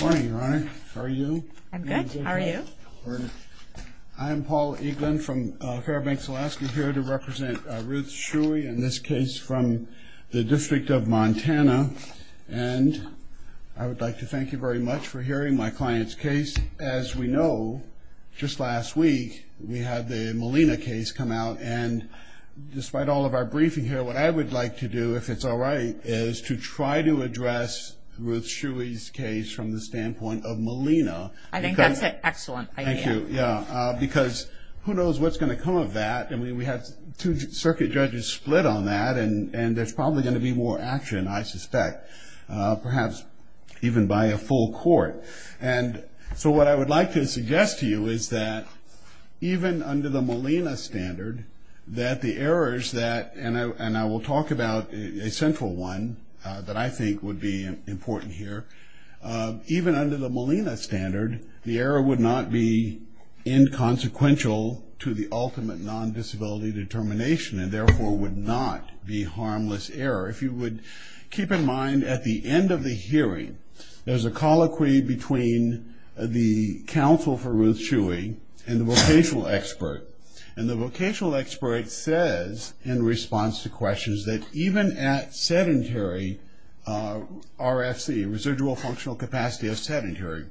Morning your honor, how are you? I'm good, how are you? I'm Paul Eaglin from Fairbanks, Alaska, here to represent Ruth Shuey in this case from the District of Montana and I would like to thank you very much for hearing my client's case. As we know, just last week we had the Molina case come out and despite all of our briefing here, what I would like to do, if it's alright, is to try to address Ruth Shuey's case from the standpoint of Molina. I think that's an excellent idea. Thank you, yeah, because who knows what's going to come of that. I mean, we have two circuit judges split on that and there's probably going to be more action, I suspect, perhaps even by a full court. And so what I would like to suggest to you is that even under the Molina standard, that the errors that, and I will talk about a central one that I think would be important here, even under the Molina standard, the error would not be inconsequential to the ultimate non-disability determination and therefore would not be harmless error. If you would keep in mind, at the end of the hearing, there's a colloquy between the counsel for Ruth Shuey and the vocational expert. And the vocational expert says, in response to questions, that even at sedentary RFC, residual high school, functional capacity of sedentary,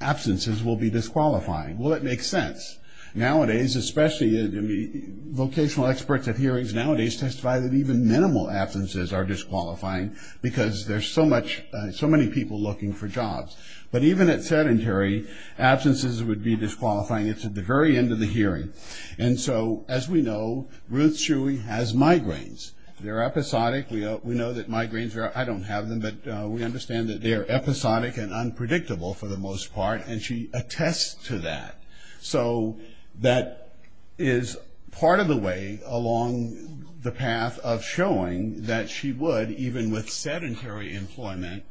absences will be disqualifying. Well, that makes sense. Nowadays, especially, vocational experts at hearings nowadays testify that even minimal absences are disqualifying because there's so much, so many people looking for jobs. But even at sedentary, absences would be disqualifying. It's at the very end of the hearing. And so, as we know, Ruth Shuey has migraines. They're episodic. We know that migraines are, I don't have them, but we understand that they're episodic and unpredictable, for the most part, and she attests to that. So, that is part of the way along the path of showing that she would, even with sedentary employment,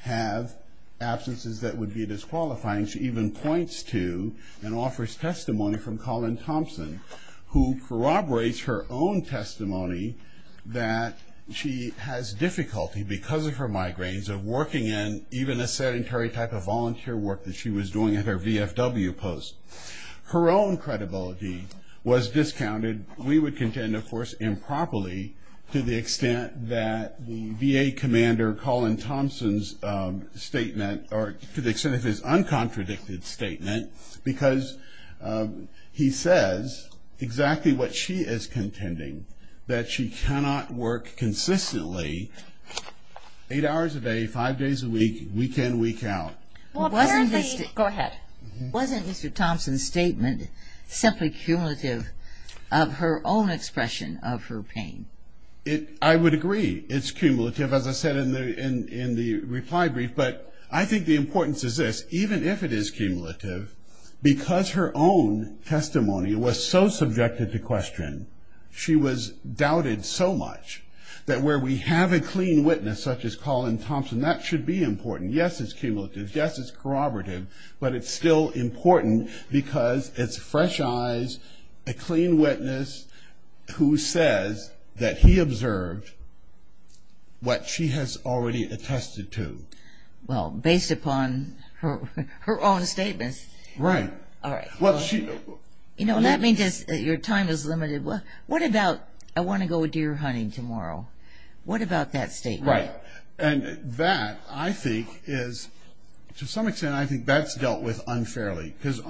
have absences that would be disqualifying. She even points to and offers testimony from Colin Thompson, who corroborates her own testimony that she has difficulty, because of her migraines, of working in even a sedentary type of volunteer work that she was doing at her VFW post. Her own credibility was discounted. We would contend, of course, improperly to the extent that the VA commander, Colin Thompson's statement, or to the extent of his uncontradicted statement, because he says exactly what she is contending, that she cannot work consistently eight hours a day, five days a week, week in, week out. Well, apparently... Go ahead. Wasn't Mr. Thompson's statement simply cumulative of her own expression of her pain? I would agree it's cumulative, as I said in the reply brief, but I think the importance is this. Even if it is cumulative, because her own testimony was so subjected to question, she was doubted so much that where we have a clean witness, such as Colin Thompson, that should be important. Yes, it's cumulative. Yes, it's corroborative, but it's still important because it's fresh eyes, a clean witness, who says that he observed what she has already attested to. Well, based upon her own statements. Right. All right. Well, she... You know, that means your time is limited. What about, I want to go deer hunting tomorrow. What about that statement? Right. And that, I think, is, to some extent, I think that's dealt with unfairly, because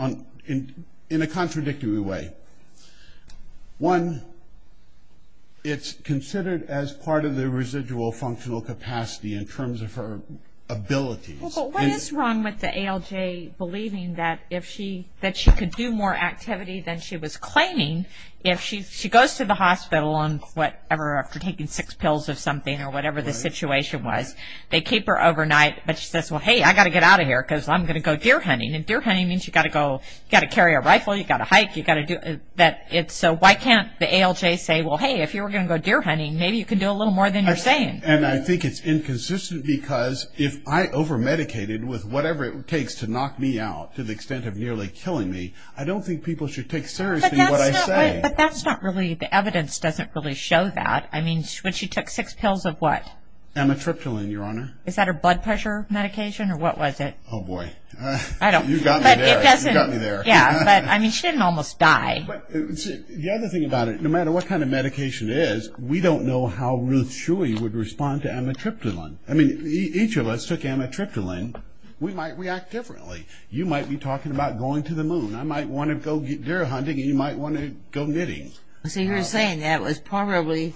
in a contradictory way. One, it's considered as part of the residual functional capacity in terms of her abilities. Well, but what is wrong with the ALJ believing that if she, that she could do more activity than she was claiming if she goes to the hospital on whatever, after taking six pills of something or whatever the situation was. They keep her overnight, but she says, well, hey, I've got to get out of here because I'm going to go deer hunting. And deer hunting means you've got to go, you've got to carry a rifle, you've got to hike, you've got to do that. So why can't the ALJ say, well, hey, if you were going to go deer hunting, maybe you can do a little more than you're saying. And I think it's inconsistent because if I over-medicated with whatever it takes to knock me out to the extent of nearly killing me, I don't think people should take seriously what I say. But that's not really, the evidence doesn't really show that. I mean, when she took six pills of what? Amitriptyline, Your Honor. Is that her blood pressure medication or what was it? Oh, boy. I don't... You got me there. But it doesn't... You got me there. Yeah, but, I mean, she didn't almost die. The other thing about it, no matter what kind of medication it is, we don't know how Ruth Shuey would respond to amitriptyline. I mean, each of us took amitriptyline. We might react differently. You might be talking about going to the moon. I might want to go deer hunting and you might want to go knitting. So you're saying that was probably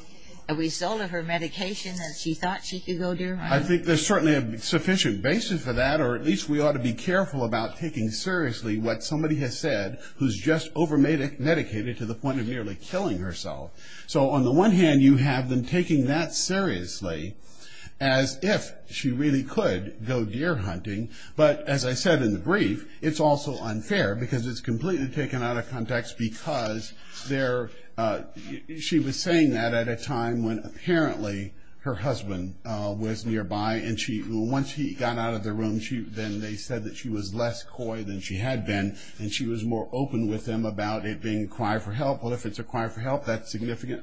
a result of her medication and she thought she could go deer hunting? I think there's certainly a sufficient basis for that or at least we ought to be careful about taking seriously what somebody has said who's just over-medicated to the point of nearly killing herself. So, on the one hand, you have them taking that seriously as if she really could go deer hunting. But, as I said in the brief, it's also unfair because it's completely taken out of context because she was saying that at a time when, apparently, her husband was nearby. Once he got out of the room, then they said that she was less coy than she had been and she was more open with him about it being a cry for help. Well, if it's a cry for help, that signifies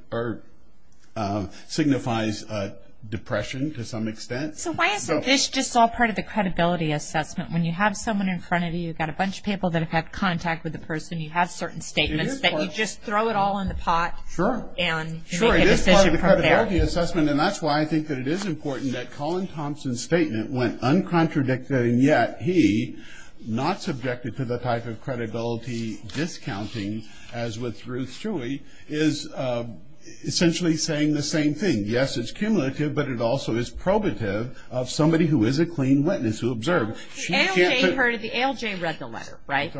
depression to some extent. So why isn't this just all part of the credibility assessment? When you have someone in front of you, you've got a bunch of people that have had contact with the person, you have certain statements that you just throw it all in the pot and make a decision from there. Sure, it is part of the credibility assessment and that's why I think that it is important that Colin Thompson's statement went uncontradicted and yet he, not subjected to the type of credibility discounting, as with Ruth Chewy, is essentially saying the same thing. Yes, it's cumulative but it also is probative of somebody who is a clean witness who observed. The ALJ read the letter, right?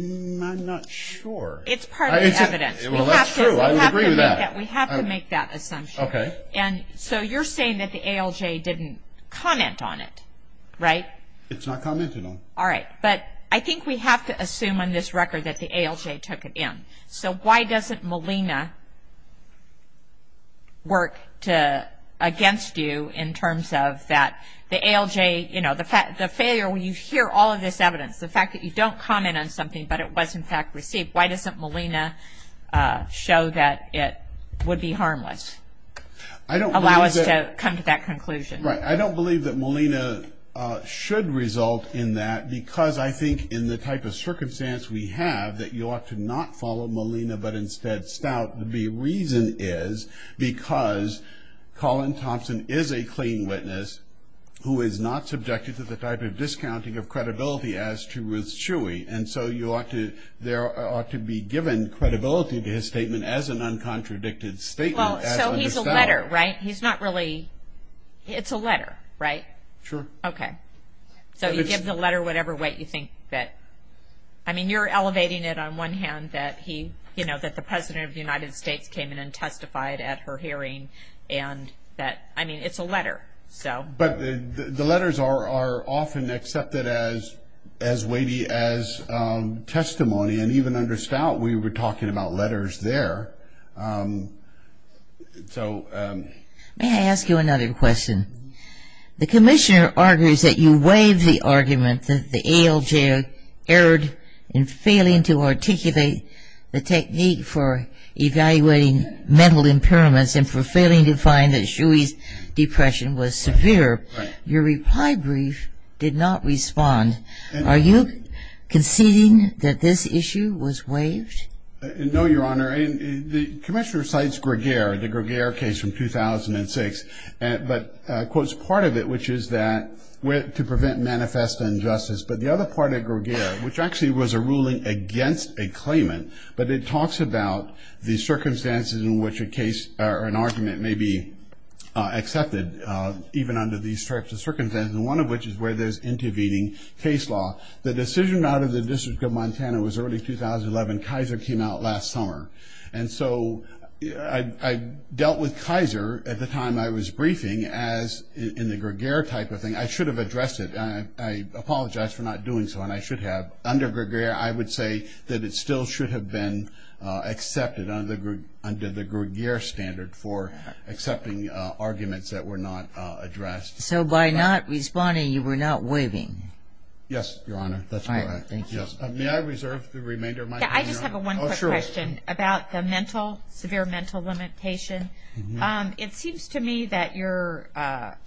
I'm not sure. It's part of the evidence. Well, that's true. I would agree with that. We have to make that assumption. So you're saying that the ALJ didn't comment on it, right? It's not commented on. Alright, but I think we have to assume on this record that the ALJ took it in. So why doesn't Molina work against you in terms of that the ALJ, the failure when you hear all of this evidence, the fact that you don't comment on something but it was in fact received, why doesn't Molina show that it would be harmless? Allow us to come to that conclusion. I don't believe that Molina should result in that because I think in the type of circumstance we have that you ought to not follow Molina but instead Stout, the reason is because Colin Thompson is a clean witness who is not subjected to the type of discounting of credibility as to Ruth Chewy. And so there ought to be given credibility to his statement as an uncontradicted statement. Well, so he's a letter, right? He's not really, it's a letter, right? Sure. Okay. So you give the letter whatever weight you think that, I mean you're elevating it on one hand that he, you know, that the President of the United States came in and testified at her hearing and that, I mean, it's a letter, so. But the letters are often accepted as weighty as testimony and even under Stout we were talking about letters there, so. May I ask you another question? The Commissioner argues that you waived the argument that the ALJ erred in failing to articulate the technique for evaluating mental impairments and for failing to find that Chewy's depression was severe. Your reply brief did not respond. Are you conceding that this issue was waived? No, Your Honor. The Commissioner cites Greger, the Greger case from 2006, but quotes part of it which is that, to prevent manifest injustice, but the other part of Greger, which actually was a ruling against a claimant, but it talks about the circumstances in which a case or an argument may be accepted, even under these types of circumstances, one of which is where there's intervening case law. The decision out of the District of Montana was early 2011. Kaiser came out last summer. And so I dealt with Kaiser at the time I was briefing as in the Greger type of thing. I should have addressed it. I apologize for not doing so and I should have. Under Greger, I would say that it still should have been accepted under the Greger standard for accepting arguments that were not addressed. So by not responding, you were not waiving? Yes, Your Honor. May I reserve the remainder of my time, Your Honor? I just have one quick question about the mental, severe mental limitation. It seems to me that you're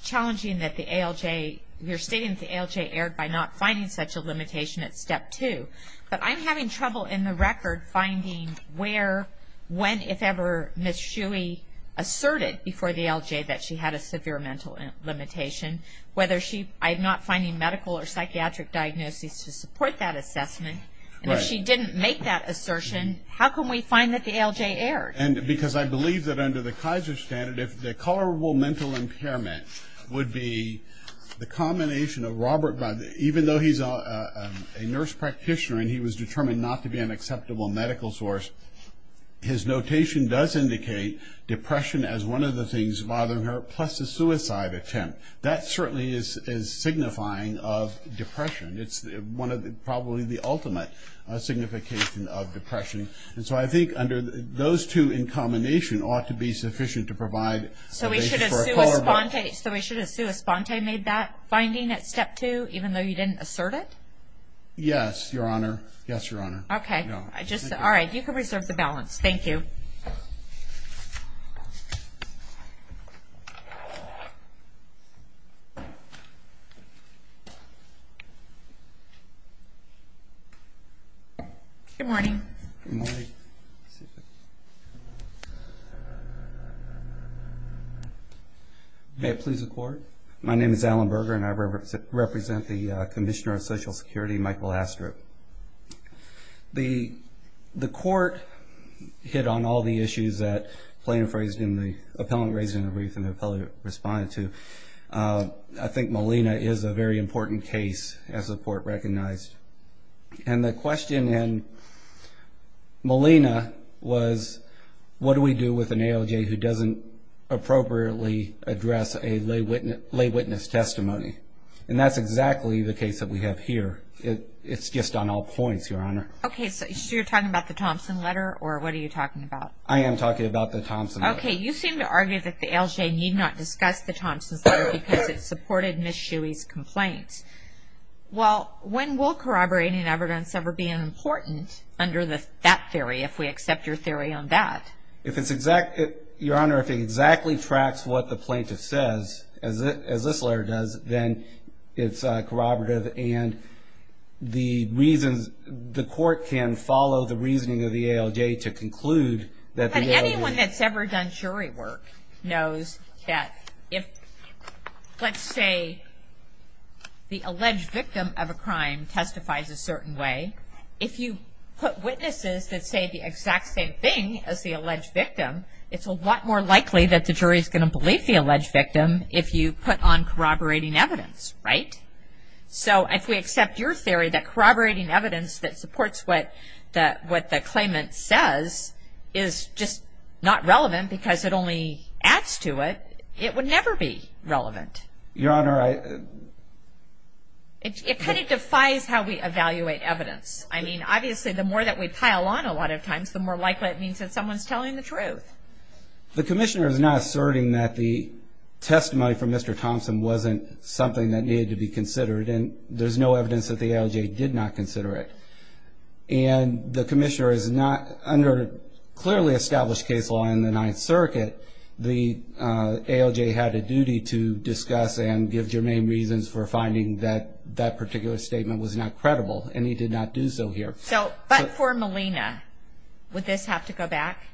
challenging that the ALJ, you're stating that the ALJ erred by not finding such a limitation at Step 2. But I'm having trouble in the record finding where, when, if ever, Ms. Shuey asserted before the ALJ that she had a severe mental limitation, whether she, I'm not finding medical or psychiatric diagnoses to support that assessment. And if she didn't make that assertion, how can we find that the ALJ erred? And because I believe that under the Kaiser standard, if the tolerable mental impairment would be the combination of Robert, even though he's a nurse practitioner and he was determined not to be an acceptable medical source, his notation does indicate depression as one of the things bothering her, plus a suicide attempt. That certainly is signifying of depression. It's one of the, probably the ultimate signification of depression. And so I think under those two in combination ought to be sufficient to provide... So we should have Sue Esponte made that finding at Step 2, even though you didn't assert it? Yes, Your Honor. Yes, Your Honor. Okay. All right. You can reserve the balance. Thank you. Good morning. Good morning. May it please the Court. My name is Alan Berger and I represent the Commissioner of Social Security, Michael Astrup. The Court hit on all the issues that plaintiff raised in the, I think Molina is a very important case as the Court recognized. And the question in Molina was, what do we do with an ALJ who doesn't appropriately address a lay witness testimony? And that's exactly the case that we have here. It's just on all points, Your Honor. Okay. So you're talking about the Thompson letter or what are you talking about? I am talking about the Thompson letter. Okay. You seem to argue that the ALJ need not discuss the Thompson letter because it supported Ms. Shuey's complaint. Well, when will corroborating evidence ever be important under that theory, if we accept your theory on that? Your Honor, if it exactly tracks what the plaintiff says, as this letter does, then it's corroborative and the reasons, the Court can follow the reasoning of the ALJ to conclude that the ALJ... Anyone that's ever done jury work knows that if, let's say, the alleged victim of a crime testifies a certain way, if you put witnesses that say the exact same thing as the alleged victim, it's a lot more likely that the jury is going to believe the alleged victim if you put on corroborating evidence, right? So if we accept your theory that corroborating evidence that supports what the claimant says is just not relevant because it only adds to it, it would never be relevant. Your Honor, I... It kind of defies how we evaluate evidence. I mean, obviously, the more that we pile on a lot of times, the more likely it means that someone's telling the truth. The Commissioner is not asserting that the testimony from Mr. Thompson wasn't something that needed to be considered and there's no evidence that the ALJ did not consider it. And the Commissioner is not... Under clearly established case law in the Ninth Circuit, the ALJ had a duty to discuss and give germane reasons for finding that that particular statement was not credible and he did not do so here. So, but for Molina, would this have to go back?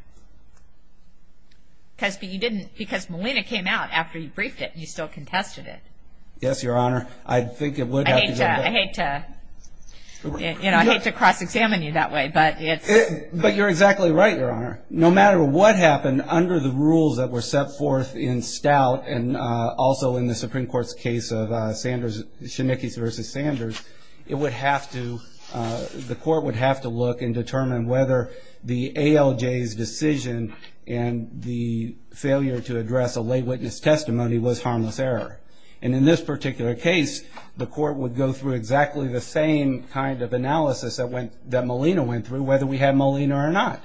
Because you didn't... Because Molina came out after you briefed it and you still contested it. Yes, Your Honor. I think it would have to go back. I hate to... You know, I hate to cross-examine you that way, but it's... But you're exactly right, Your Honor. No matter what happened, under the rules that were set forth in Stout and also in the Supreme Court's case of Sanders... Schmickes v. Sanders, it would have to... The court would have to look and determine whether the ALJ's decision and the failure to address a lay witness testimony was harmless error. And in this particular case, the court would go through exactly the same kind of analysis that Molina went through, whether we had Molina or not.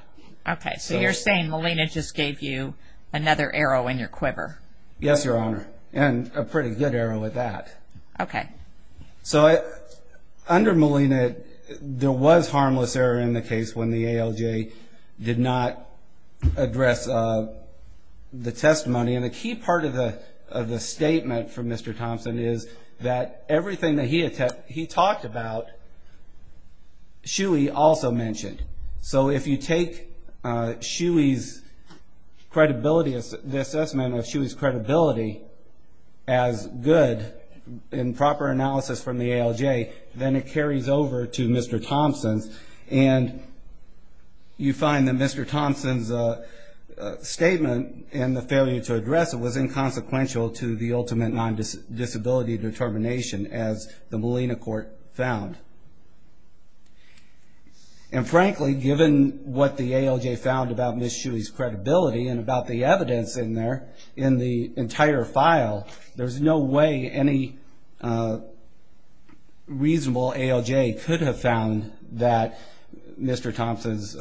Okay. So you're saying Molina just gave you another arrow in your quiver. Yes, Your Honor. And a pretty good arrow at that. Okay. So under Molina, there was harmless error in the case when the ALJ did not address the testimony. And the key part of the statement from Mr. Thompson is that everything that he talked about, Shuey also mentioned. So if you take Shuey's credibility... the assessment of Shuey's credibility as good in proper analysis from the ALJ, then it carries over to Mr. Thompson's. And you find that Mr. Thompson's statement and the failure to address it was inconsequential to the ultimate non-disability determination, as the Molina court found. And frankly, given what the ALJ found about Ms. Shuey's credibility and about the evidence in there, in the entire file, there's no way any reasonable ALJ could have found that Mr. Thompson's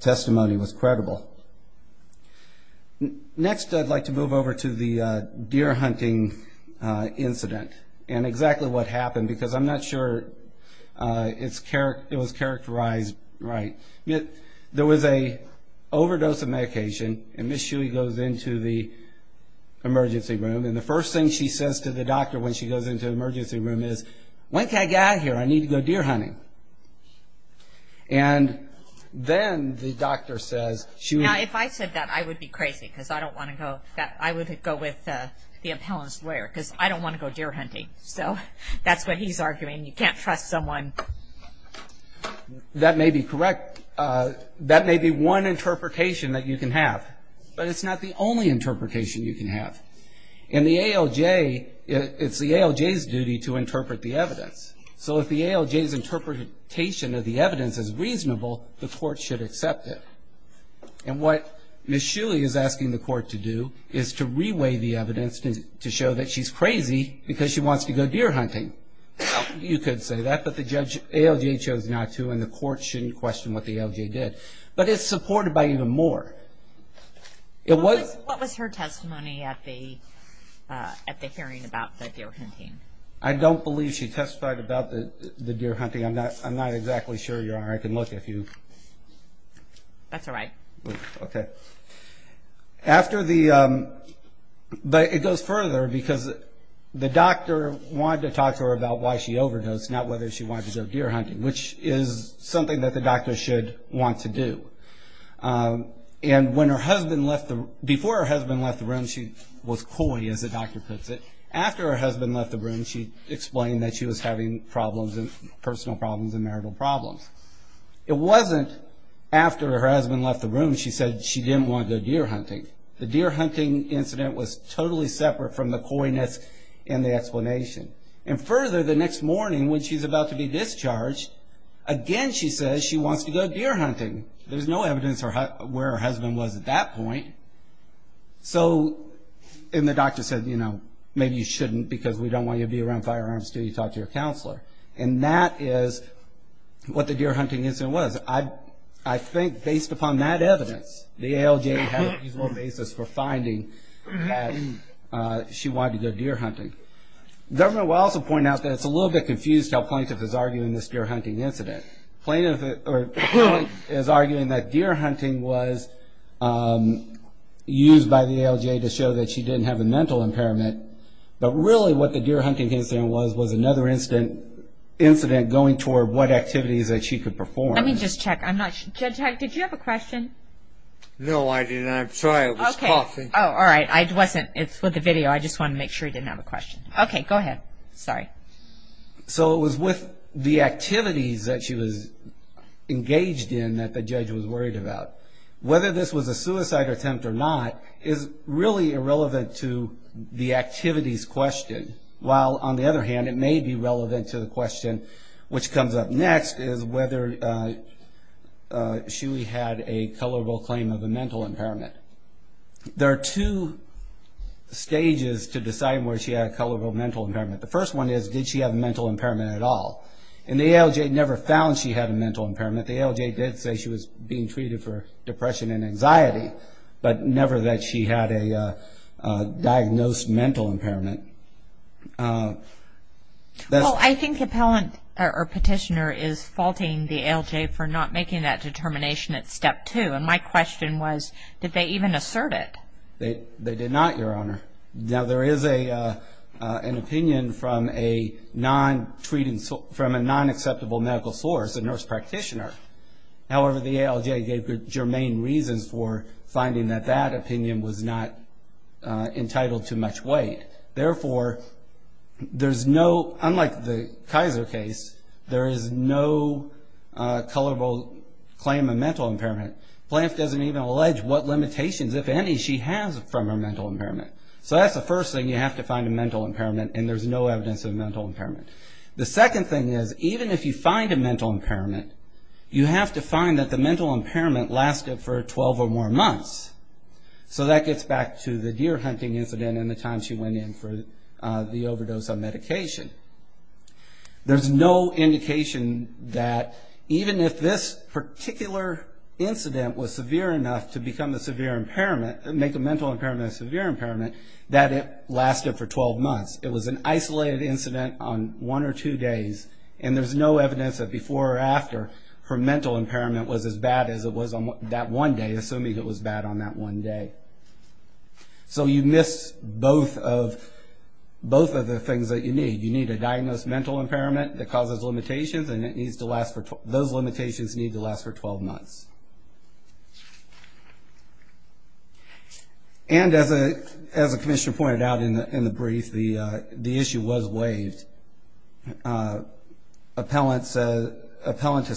testimony was credible. Next, I'd like to move over to the deer hunting incident and exactly what happened, because I'm not sure it was characterized right. There was an overdose of medication, and Ms. Shuey goes into the emergency room. And the first thing she says to the doctor when she goes into the emergency room is, When can I get out of here? I need to go deer hunting. And then the doctor says, Now, if I said that, I would be crazy, because I don't want to go. I would go with the appellant's lawyer, because I don't want to go deer hunting. So that's what he's arguing. You can't trust someone. That may be correct. That may be one interpretation that you can have, but it's not the only interpretation you can have. In the ALJ, it's the ALJ's duty to interpret the evidence. So if the ALJ's interpretation of the evidence is reasonable, the court should accept it. And what Ms. Shuey is asking the court to do is to reweigh the evidence to show that she's crazy because she wants to go deer hunting. You could say that, but the ALJ chose not to, and the court shouldn't question what the ALJ did. But it's supported by even more. What was her testimony at the hearing about the deer hunting? I don't believe she testified about the deer hunting. I'm not exactly sure you are. I can look if you... That's all right. Okay. But it goes further, because the doctor wanted to talk to her about why she overdosed, not whether she wanted to go deer hunting, which is something that the doctor should want to do. And before her husband left the room, she was coy, as the doctor puts it. After her husband left the room, she explained that she was having problems, personal problems and marital problems. It wasn't after her husband left the room she said she didn't want to go deer hunting. The deer hunting incident was totally separate from the coyness in the explanation. And further, the next morning when she's about to be discharged, again she says she wants to go deer hunting. There's no evidence where her husband was at that point. So, and the doctor said, you know, maybe you shouldn't, because we don't want you to be around firearms until you talk to your counselor. And that is what the deer hunting incident was. I think based upon that evidence, the ALJ had a reasonable basis for finding that she wanted to go deer hunting. The government will also point out that it's a little bit confused how plaintiff is arguing this deer hunting incident. Plaintiff is arguing that deer hunting was used by the ALJ to show that she didn't have a mental impairment. But really what the deer hunting incident was, was another incident going toward what activities that she could perform. Let me just check. Judge Heck, did you have a question? No, I didn't. I'm sorry. It was coffee. Oh, all right. It's with the video. I just wanted to make sure you didn't have a question. Okay, go ahead. Sorry. So it was with the activities that she was engaged in that the judge was worried about. Whether this was a suicide attempt or not is really irrelevant to the activities question. While on the other hand, it may be relevant to the question which comes up next, is whether Shuey had a colorable claim of a mental impairment. There are two stages to deciding whether she had a colorable mental impairment. The first one is, did she have a mental impairment at all? And the ALJ never found she had a mental impairment. The ALJ did say she was being treated for depression and anxiety, but never that she had a diagnosed mental impairment. Well, I think the petitioner is faulting the ALJ for not making that determination at step two. And my question was, did they even assert it? They did not, Your Honor. Now there is an opinion from a non-acceptable medical source, a nurse practitioner. However, the ALJ gave germane reasons for finding that that opinion was not entitled to much weight. Therefore, unlike the Kaiser case, there is no colorable claim of mental impairment. Blanf doesn't even allege what limitations, if any, she has from her mental impairment. So that's the first thing, you have to find a mental impairment, and there's no evidence of a mental impairment. The second thing is, even if you find a mental impairment, you have to find that the mental impairment lasted for 12 or more months. So that gets back to the deer hunting incident and the time she went in for the overdose of medication. There's no indication that even if this particular incident was severe enough to make a mental impairment a severe impairment, that it lasted for 12 months. It was an isolated incident on one or two days, and there's no evidence that before or after, her mental impairment was as bad as it was on that one day, assuming it was bad on that one day. So you miss both of the things that you need. You need a diagnosed mental impairment that causes limitations, and those limitations need to last for 12 months. And as the commissioner pointed out in the brief, the issue was waived. Appellants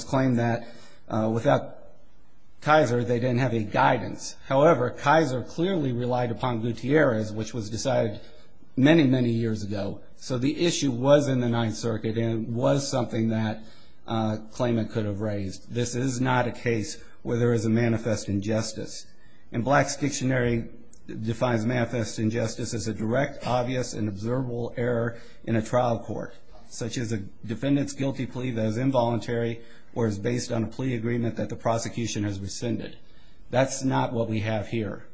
claim that without Kaiser, they didn't have any guidance. However, Kaiser clearly relied upon Gutierrez, which was decided many, many years ago. So the issue was in the Ninth Circuit and was something that a claimant could have raised. This is not a case where there is a manifest injustice. And Black's Dictionary defines manifest injustice as a direct, obvious, and observable error in a trial court, such as a defendant's guilty plea that is involuntary or is based on a plea agreement that the prosecution has rescinded. That's not what we have here.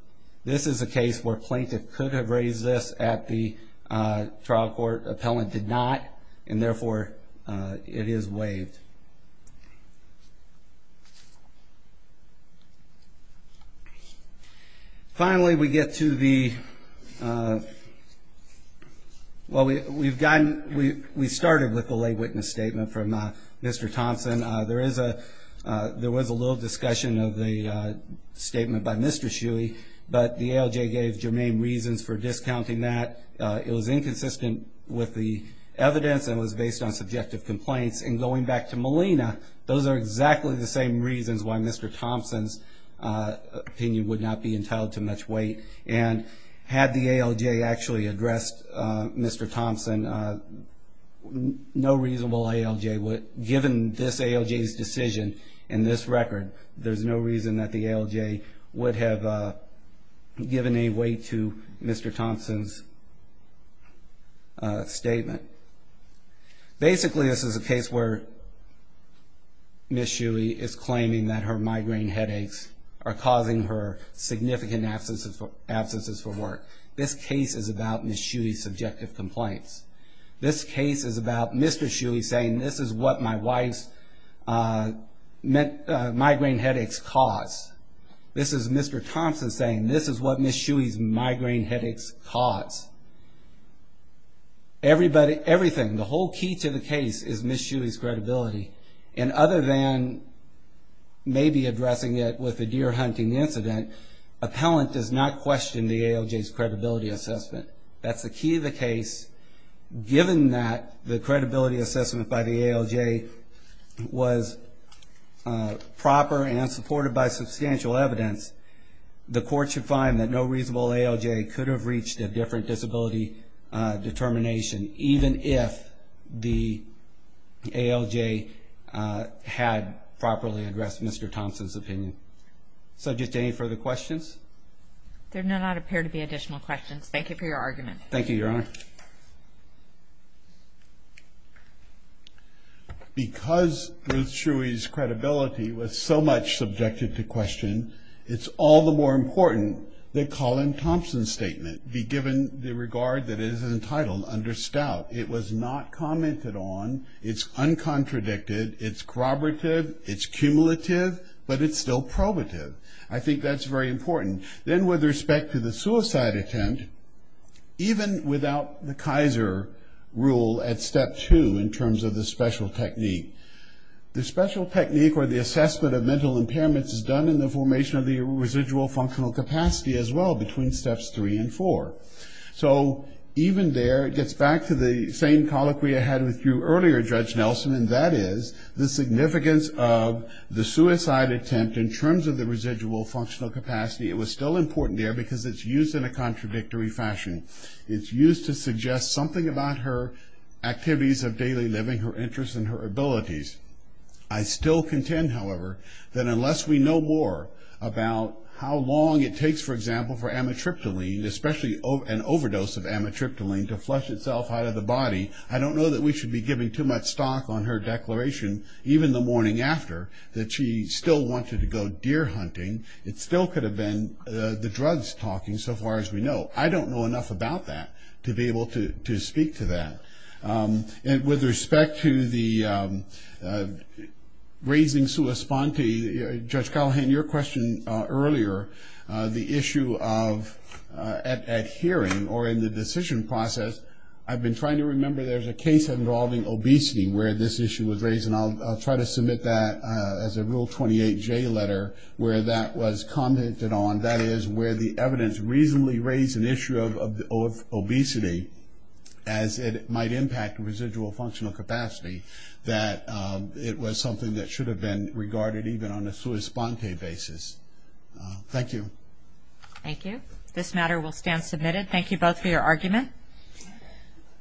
This is a case where a plaintiff could have raised this at the trial court. Appellant did not, and therefore, it is waived. Finally, we get to the – well, we've gotten – we started with the lay witness statement from Mr. Thompson. There was a little discussion of the statement by Mr. Shuey, but the ALJ gave germane reasons for discounting that. It was inconsistent with the evidence and was based on subjective complaints. And going back to Molina, those are exactly the same reasons why Mr. Thompson's opinion would not be entitled to much weight. And had the ALJ actually addressed Mr. Thompson, no reasonable ALJ would – given this ALJ's decision and this record, there's no reason that the ALJ would have given any weight to Mr. Thompson's statement. Basically, this is a case where Ms. Shuey is claiming that her migraine headaches are causing her significant absences from work. This case is about Ms. Shuey's subjective complaints. This case is about Mr. Shuey saying, this is what my wife's migraine headaches cause. This is Mr. Thompson saying, this is what Ms. Shuey's migraine headaches cause. Everything, the whole key to the case is Ms. Shuey's credibility. And other than maybe addressing it with a deer hunting incident, appellant does not question the ALJ's credibility assessment. That's the key to the case. Given that the credibility assessment by the ALJ was proper and supported by substantial evidence, the court should find that no reasonable ALJ could have reached a different disability determination, even if the ALJ had properly addressed Mr. Thompson's opinion. So just any further questions? There do not appear to be additional questions. Thank you for your argument. Thank you, Your Honor. Because Ruth Shuey's credibility was so much subjected to question, it's all the more important that Colin Thompson's statement be given the regard that it is entitled under stout. It was not commented on. It's uncontradicted. It's corroborative. It's cumulative. But it's still probative. I think that's very important. Then with respect to the suicide attempt, even without the Kaiser rule at step two in terms of the special technique, the special technique or the assessment of mental impairments is done in the formation of the residual functional capacity as well between steps three and four. So even there, it gets back to the same colloquy I had with you earlier, Judge Nelson, and that is the significance of the suicide attempt in terms of the residual functional capacity. It was still important there because it's used in a contradictory fashion. It's used to suggest something about her activities of daily living, her interests and her abilities. I still contend, however, that unless we know more about how long it takes, for example, for amitriptyline, especially an overdose of amitriptyline, to flush itself out of the body, I don't know that we should be giving too much stock on her declaration, even the morning after, that she still wanted to go deer hunting. It still could have been the drugs talking so far as we know. I don't know enough about that to be able to speak to that. With respect to the raising sua sponte, Judge Callahan, your question earlier, the issue of adhering or in the decision process, I've been trying to remember there's a case involving obesity where this issue was raised, and I'll try to submit that as a Rule 28J letter where that was commented on. That is where the evidence reasonably raised an issue of obesity as it might impact residual functional capacity, that it was something that should have been regarded even on a sua sponte basis. Thank you. Thank you. This matter will stand submitted. Thank you both for your argument.